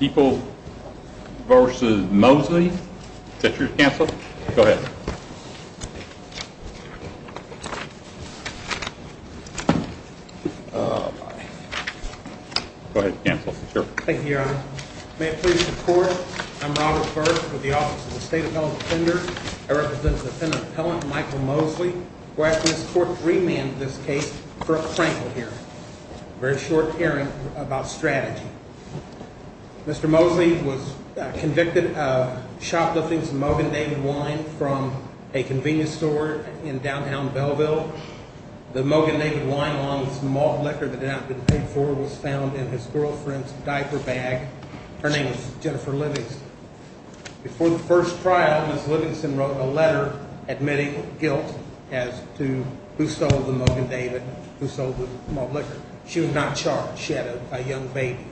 People vs. Mosley, is that your counsel? Go ahead. Go ahead, counsel. Thank you, Your Honor. May it please the Court, I'm Robert Burke with the Office of the State Appellant Defender. I represent the defendant appellant, Michael Mosley. We're asking this Court to remand this case for a crankle hearing. A very short hearing about strategy. Mr. Mosley was convicted of shoplifting some Mogan David wine from a convenience store in downtown Belleville. The Mogan David wine, along with some malt liquor that had not been paid for, was found in his girlfriend's diaper bag. Her name was Jennifer Livingston. Before the first trial, Ms. Livingston wrote a letter admitting guilt as to who sold the Mogan David, who sold the malt liquor. She was not charged. She had a young baby.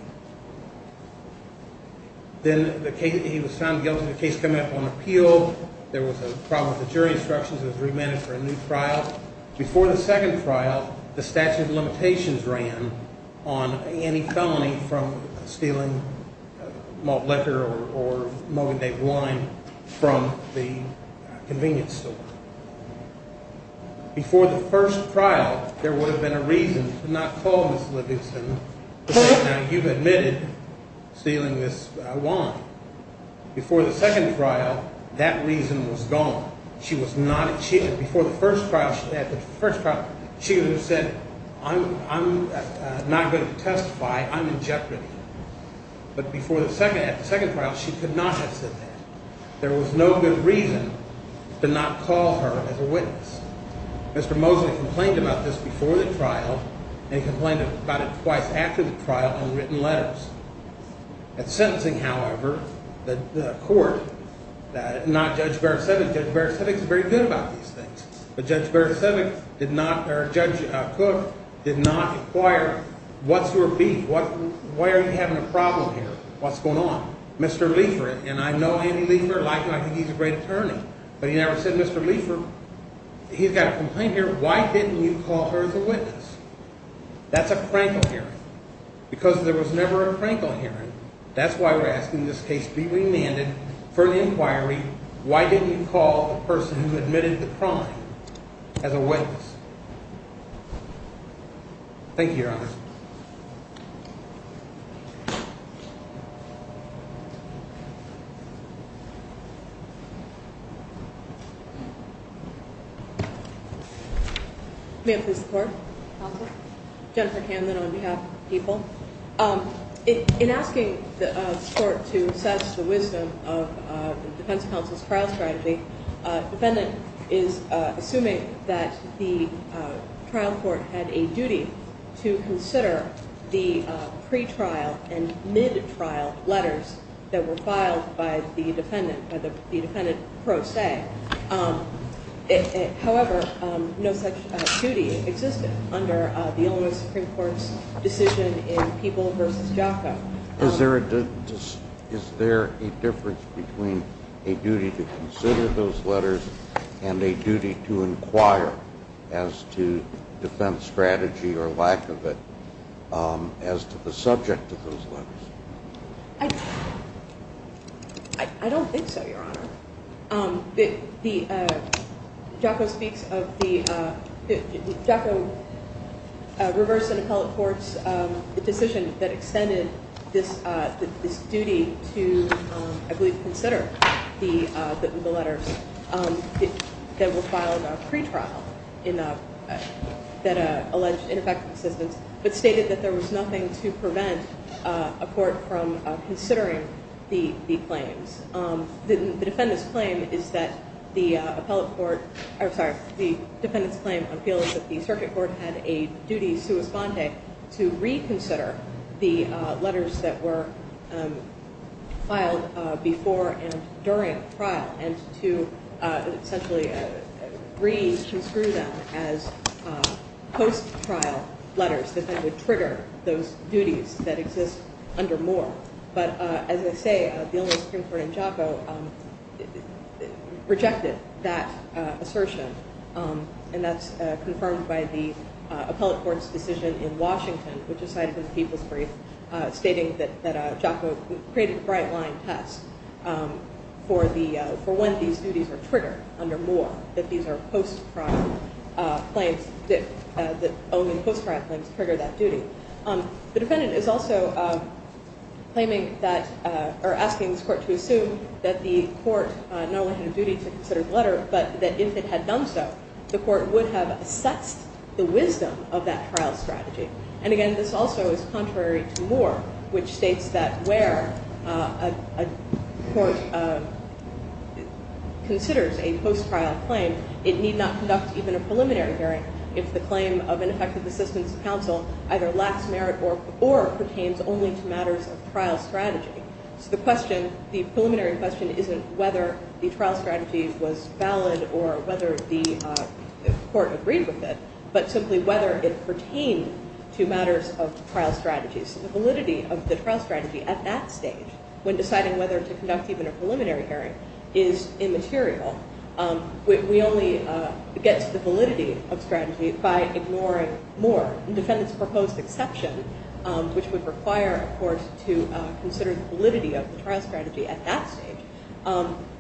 Then he was found guilty. The case came up on appeal. There was a problem with the jury instructions. It was remanded for a new trial. Before the second trial, the statute of limitations ran on any felony from stealing malt liquor or Mogan David wine from the convenience store. Before the first trial, there would have been a reason to not call Ms. Livingston. Now, you've admitted stealing this wine. Before the second trial, that reason was gone. Before the first trial, she would have said, I'm not going to testify. I'm in jeopardy. But at the second trial, she could not have said that. There was no good reason to not call her as a witness. Mr. Mosley complained about this before the trial and complained about it twice after the trial in written letters. At sentencing, however, the court, not Judge Baricevic. Judge Baricevic is very good about these things. But Judge Cook did not inquire, what's your beef? Why are you having a problem here? What's going on? Mr. Leifer, and I know Andy Leifer. Like him, I think he's a great attorney. But he never said, Mr. Leifer, he's got a complaint here. Why didn't you call her as a witness? That's a crankle hearing. Because there was never a crankle hearing. That's why we're asking this case be remanded for the inquiry. Why didn't you call the person who admitted the crime as a witness? Thank you, Your Honor. May I please report? Counsel. Jennifer Hanlon on behalf of the people. In asking the court to assess the wisdom of the defense counsel's trial strategy, the defendant is assuming that the trial court had a duty to consider the pre-trial and mid-trial letters that were filed by the defendant, by the defendant pro se. However, no such duty existed under the Illinois Supreme Court's decision in People v. JACA. Is there a difference between a duty to consider those letters and a duty to inquire as to defense strategy or lack of it as to the subject of those letters? I don't think so, Your Honor. JACA reversed an appellate court's decision that extended this duty to, I believe, consider the letters that were filed pre-trial that alleged ineffective assistance, but stated that there was nothing to prevent a court from considering the claims. The defendant's claim is that the circuit court had a duty sua sponte to reconsider the letters that were filed before and during trial and to essentially re-construe them as post-trial letters that then would trigger those duties that exist under Moore. But as I say, the Illinois Supreme Court in JACA rejected that assertion, and that's confirmed by the appellate court's decision in Washington, which is cited in the People's Brief, stating that JACA created a bright-line test for when these duties were triggered under Moore, that these are post-trial claims that only post-trial claims trigger that duty. The defendant is also asking this court to assume that the court not only had a duty to consider the letter, but that if it had done so, the court would have assessed the wisdom of that trial strategy. And again, this also is contrary to Moore, which states that where a court considers a post-trial claim, it need not conduct even a preliminary hearing if the claim of ineffective assistance to counsel either lacks merit or pertains only to matters of trial strategy. So the preliminary question isn't whether the trial strategy was valid or whether the court agreed with it, but simply whether it pertained to matters of trial strategy. So the validity of the trial strategy at that stage, when deciding whether to conduct even a preliminary hearing, is immaterial. We only get to the validity of strategy by ignoring Moore. The defendant's proposed exception, which would require a court to consider the validity of the trial strategy at that stage,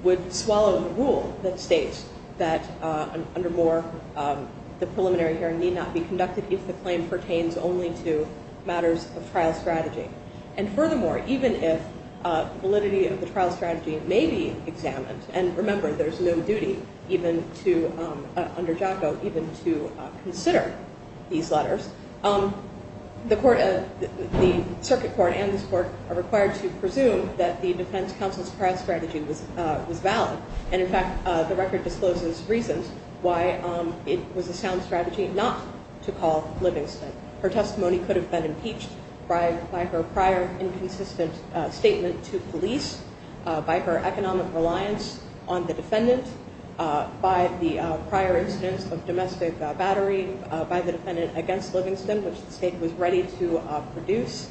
would swallow the rule that states that under Moore, the preliminary hearing need not be conducted if the claim pertains only to matters of trial strategy. And furthermore, even if validity of the trial strategy may be examined, and remember, there's no duty under JACO even to consider these letters, the circuit court and this court are required to presume that the defense counsel's trial strategy was valid. And in fact, the record discloses reasons why it was a sound strategy not to call Livingston. Her testimony could have been impeached by her prior inconsistent statement to police, by her economic reliance on the defendant, by the prior instance of domestic battery, by the defendant against Livingston, which the state was ready to produce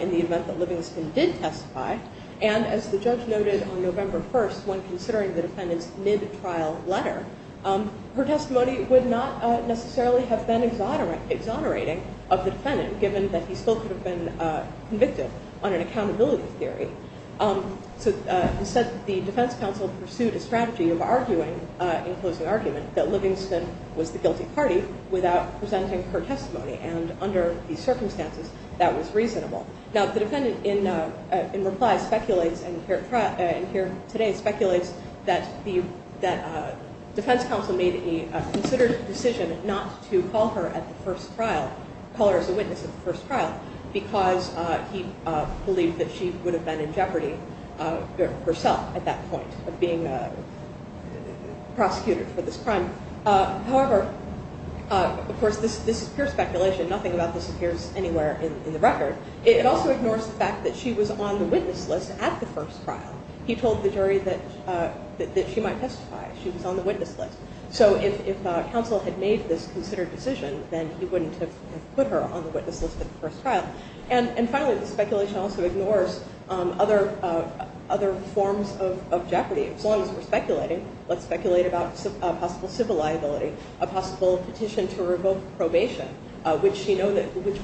in the event that Livingston did testify. And as the judge noted on November 1st, when considering the defendant's mid-trial letter, her testimony would not necessarily have been exonerating of the defendant, given that he still could have been convicted on an accountability theory. So instead, the defense counsel pursued a strategy of arguing, in closing argument, that Livingston was the guilty party without presenting her testimony. And under these circumstances, that was reasonable. Now, the defendant in reply speculates, and here today speculates, that defense counsel made a considered decision not to call her at the first trial, call her as a witness at the first trial, because he believed that she would have been in jeopardy herself at that point of being prosecuted for this crime. However, of course, this is pure speculation. Nothing about this appears anywhere in the record. It also ignores the fact that she was on the witness list at the first trial. He told the jury that she might testify. She was on the witness list. So if counsel had made this considered decision, then he wouldn't have put her on the witness list at the first trial. And finally, the speculation also ignores other forms of jeopardy. As long as we're speculating, let's speculate about a possible civil liability, a possible petition to revoke probation, which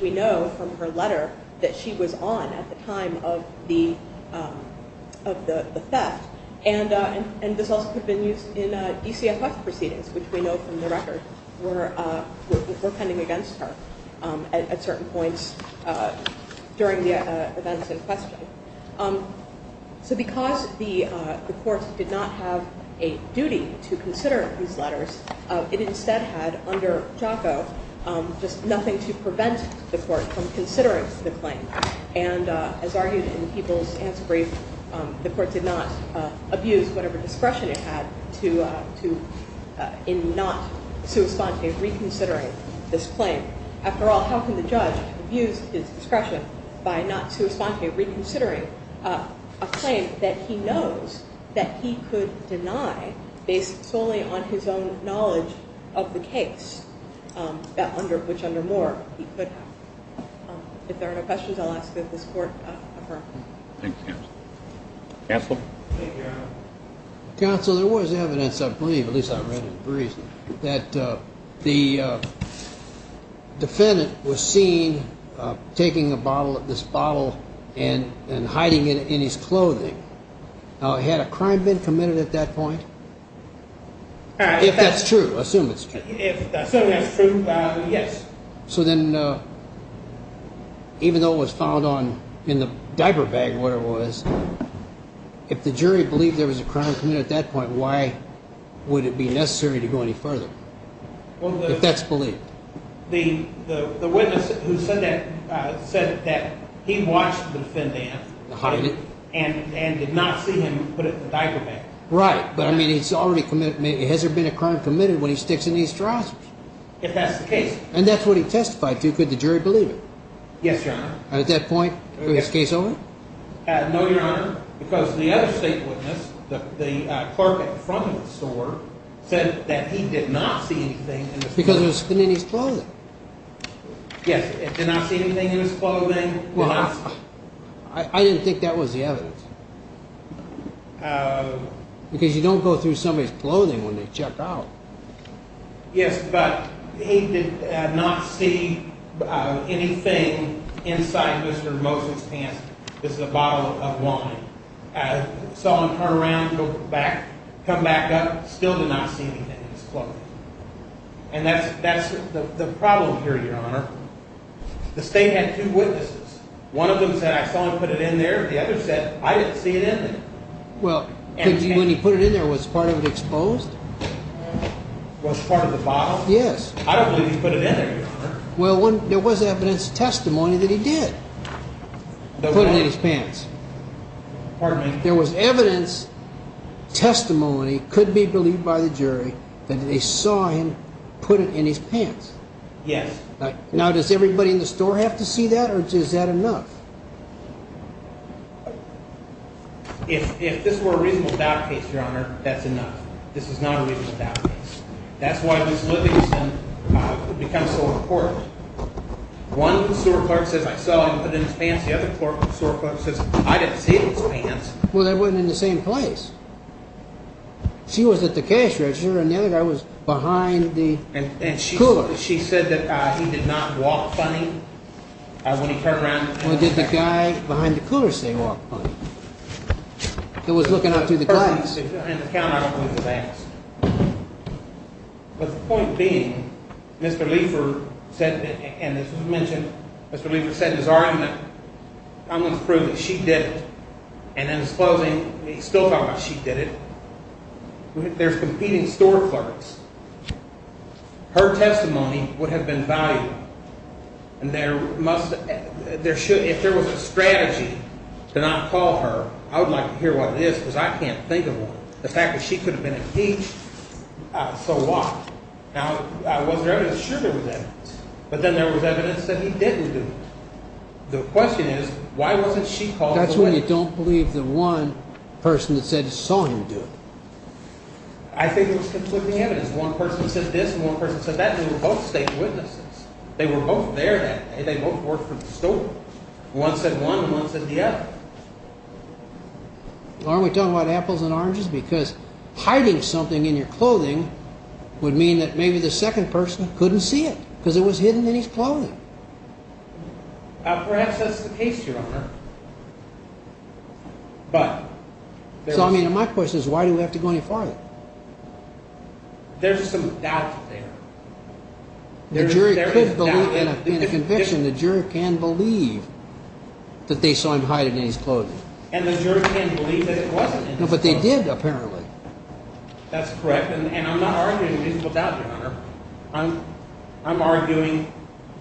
we know from her letter that she was on at the time of the theft. And this also could have been used in DCFS proceedings, which we know from the record were pending against her at certain points during the events in question. So because the court did not have a duty to consider these letters, it instead had under Jaco just nothing to prevent the court from considering the claim. And as argued in the People's Answer Brief, the court did not abuse whatever discretion it had in not sui sponte reconsidering this claim. After all, how can the judge abuse his discretion by not sui sponte reconsidering a claim that he knows that he could deny based solely on his own knowledge of the case, which under Moore he could have. If there are no questions, I'll ask that this court affirm. Thank you, counsel. Counsel? Counsel, there was evidence, I believe, at least I read in the brief, that the defendant was seen taking a bottle of this bottle and hiding it in his clothing. Now, had a crime been committed at that point? If that's true, assume it's true. Assume that's true, yes. So then even though it was found in the diaper bag where it was, if the jury believed there was a crime committed at that point, why would it be necessary to go any further? If that's believed. The witness who said that said that he watched the defendant hide it and did not see him put it in the diaper bag. Right, but I mean it's already committed. Has there been a crime committed when he sticks it in his trousers? If that's the case. And that's what he testified to. Could the jury believe it? Yes, Your Honor. And at that point, was his case over? No, Your Honor, because the other state witness, the clerk at the front of the store, said that he did not see anything. Because it was in his clothing. Yes, he did not see anything in his clothing. Well, I didn't think that was the evidence. Because you don't go through somebody's clothing when they check out. Yes, but he did not see anything inside Mr. Moses' pants. It's a bottle of wine. I saw him turn around, go back, come back up, still did not see anything in his clothing. And that's the problem here, Your Honor. The state had two witnesses. One of them said, I saw him put it in there. The other said, I didn't see it in there. Well, when he put it in there, was part of it exposed? Was part of the bottle? Yes. I don't believe he put it in there, Your Honor. Well, there was evidence, testimony that he did put it in his pants. Pardon me? There was evidence, testimony, could be believed by the jury, that they saw him put it in his pants. Yes. Now, does everybody in the store have to see that, or is that enough? If this were a reasonable doubt case, Your Honor, that's enough. This is not a reasonable doubt case. That's why this litigation becomes so important. One store clerk says, I saw him put it in his pants. The other store clerk says, I didn't see it in his pants. Well, they weren't in the same place. She was at the cash register, and the other guy was behind the cooler. And she said that he did not walk funny when he turned around. Well, did the guy behind the cooler say he walked funny? He was looking out to the guys. In the count, I don't believe it was asked. But the point being, Mr. Leifer said, and this was mentioned, Mr. Leifer said in his argument, I'm going to prove that she did it. And in his closing, he's still talking about she did it. There's competing store clerks. Her testimony would have been valuable. If there was a strategy to not call her, I would like to hear what it is because I can't think of one. The fact that she could have been impeached, so what? Now, was there evidence? Sure there was evidence. But then there was evidence that he didn't do it. The question is, why wasn't she called the witness? That's when you don't believe the one person that said saw him do it. I think it was conflicting evidence. One person said this and one person said that. They were both state witnesses. They were both there that day. They both worked for the store. One said one and one said the other. Aren't we talking about apples and oranges? Because hiding something in your clothing would mean that maybe the second person couldn't see it because it was hidden in his clothing. Perhaps that's the case, Your Honor. There's some doubt there. The jury could believe in a conviction. The jury can believe that they saw him hide it in his clothing. And the jury can believe that it wasn't in his clothing. No, but they did apparently. That's correct, and I'm not arguing reasonable doubt, Your Honor. I'm arguing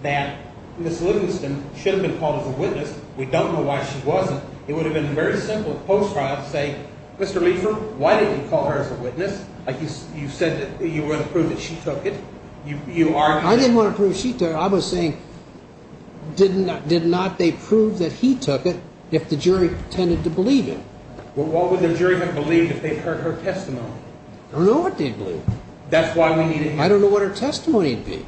that Ms. Livingston should have been called as a witness. We don't know why she wasn't. It would have been a very simple post-trial to say, Mr. Liefrem, why didn't you call her as a witness? You said that you wanted to prove that she took it. I didn't want to prove she took it. I was saying did not they prove that he took it if the jury tended to believe it? Well, what would the jury have believed if they'd heard her testimony? I don't know what they'd believe. That's why we need a hearing. I don't know what her testimony would be.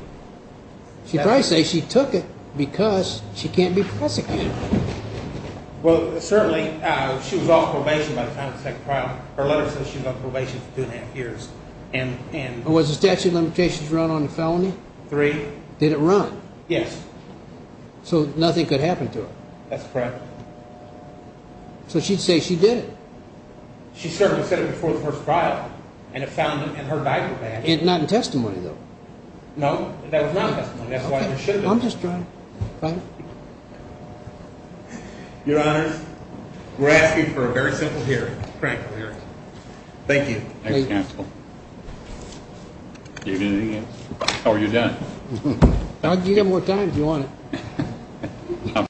She'd probably say she took it because she can't be prosecuted. Well, certainly, she was off probation by the time of the second trial. Her letter says she was on probation for two and a half years. Was the statute of limitations run on the felony? Three. Did it run? Yes. So nothing could happen to her? That's correct. So she'd say she did it? She certainly said it before the first trial, and it found him in her diaper bag. No, that was not testimony. That's why there shouldn't have been. Your Honor, we're asking for a very simple hearing, a frank hearing. Thank you. Thank you, counsel. How are you doing? You've got more time if you want it.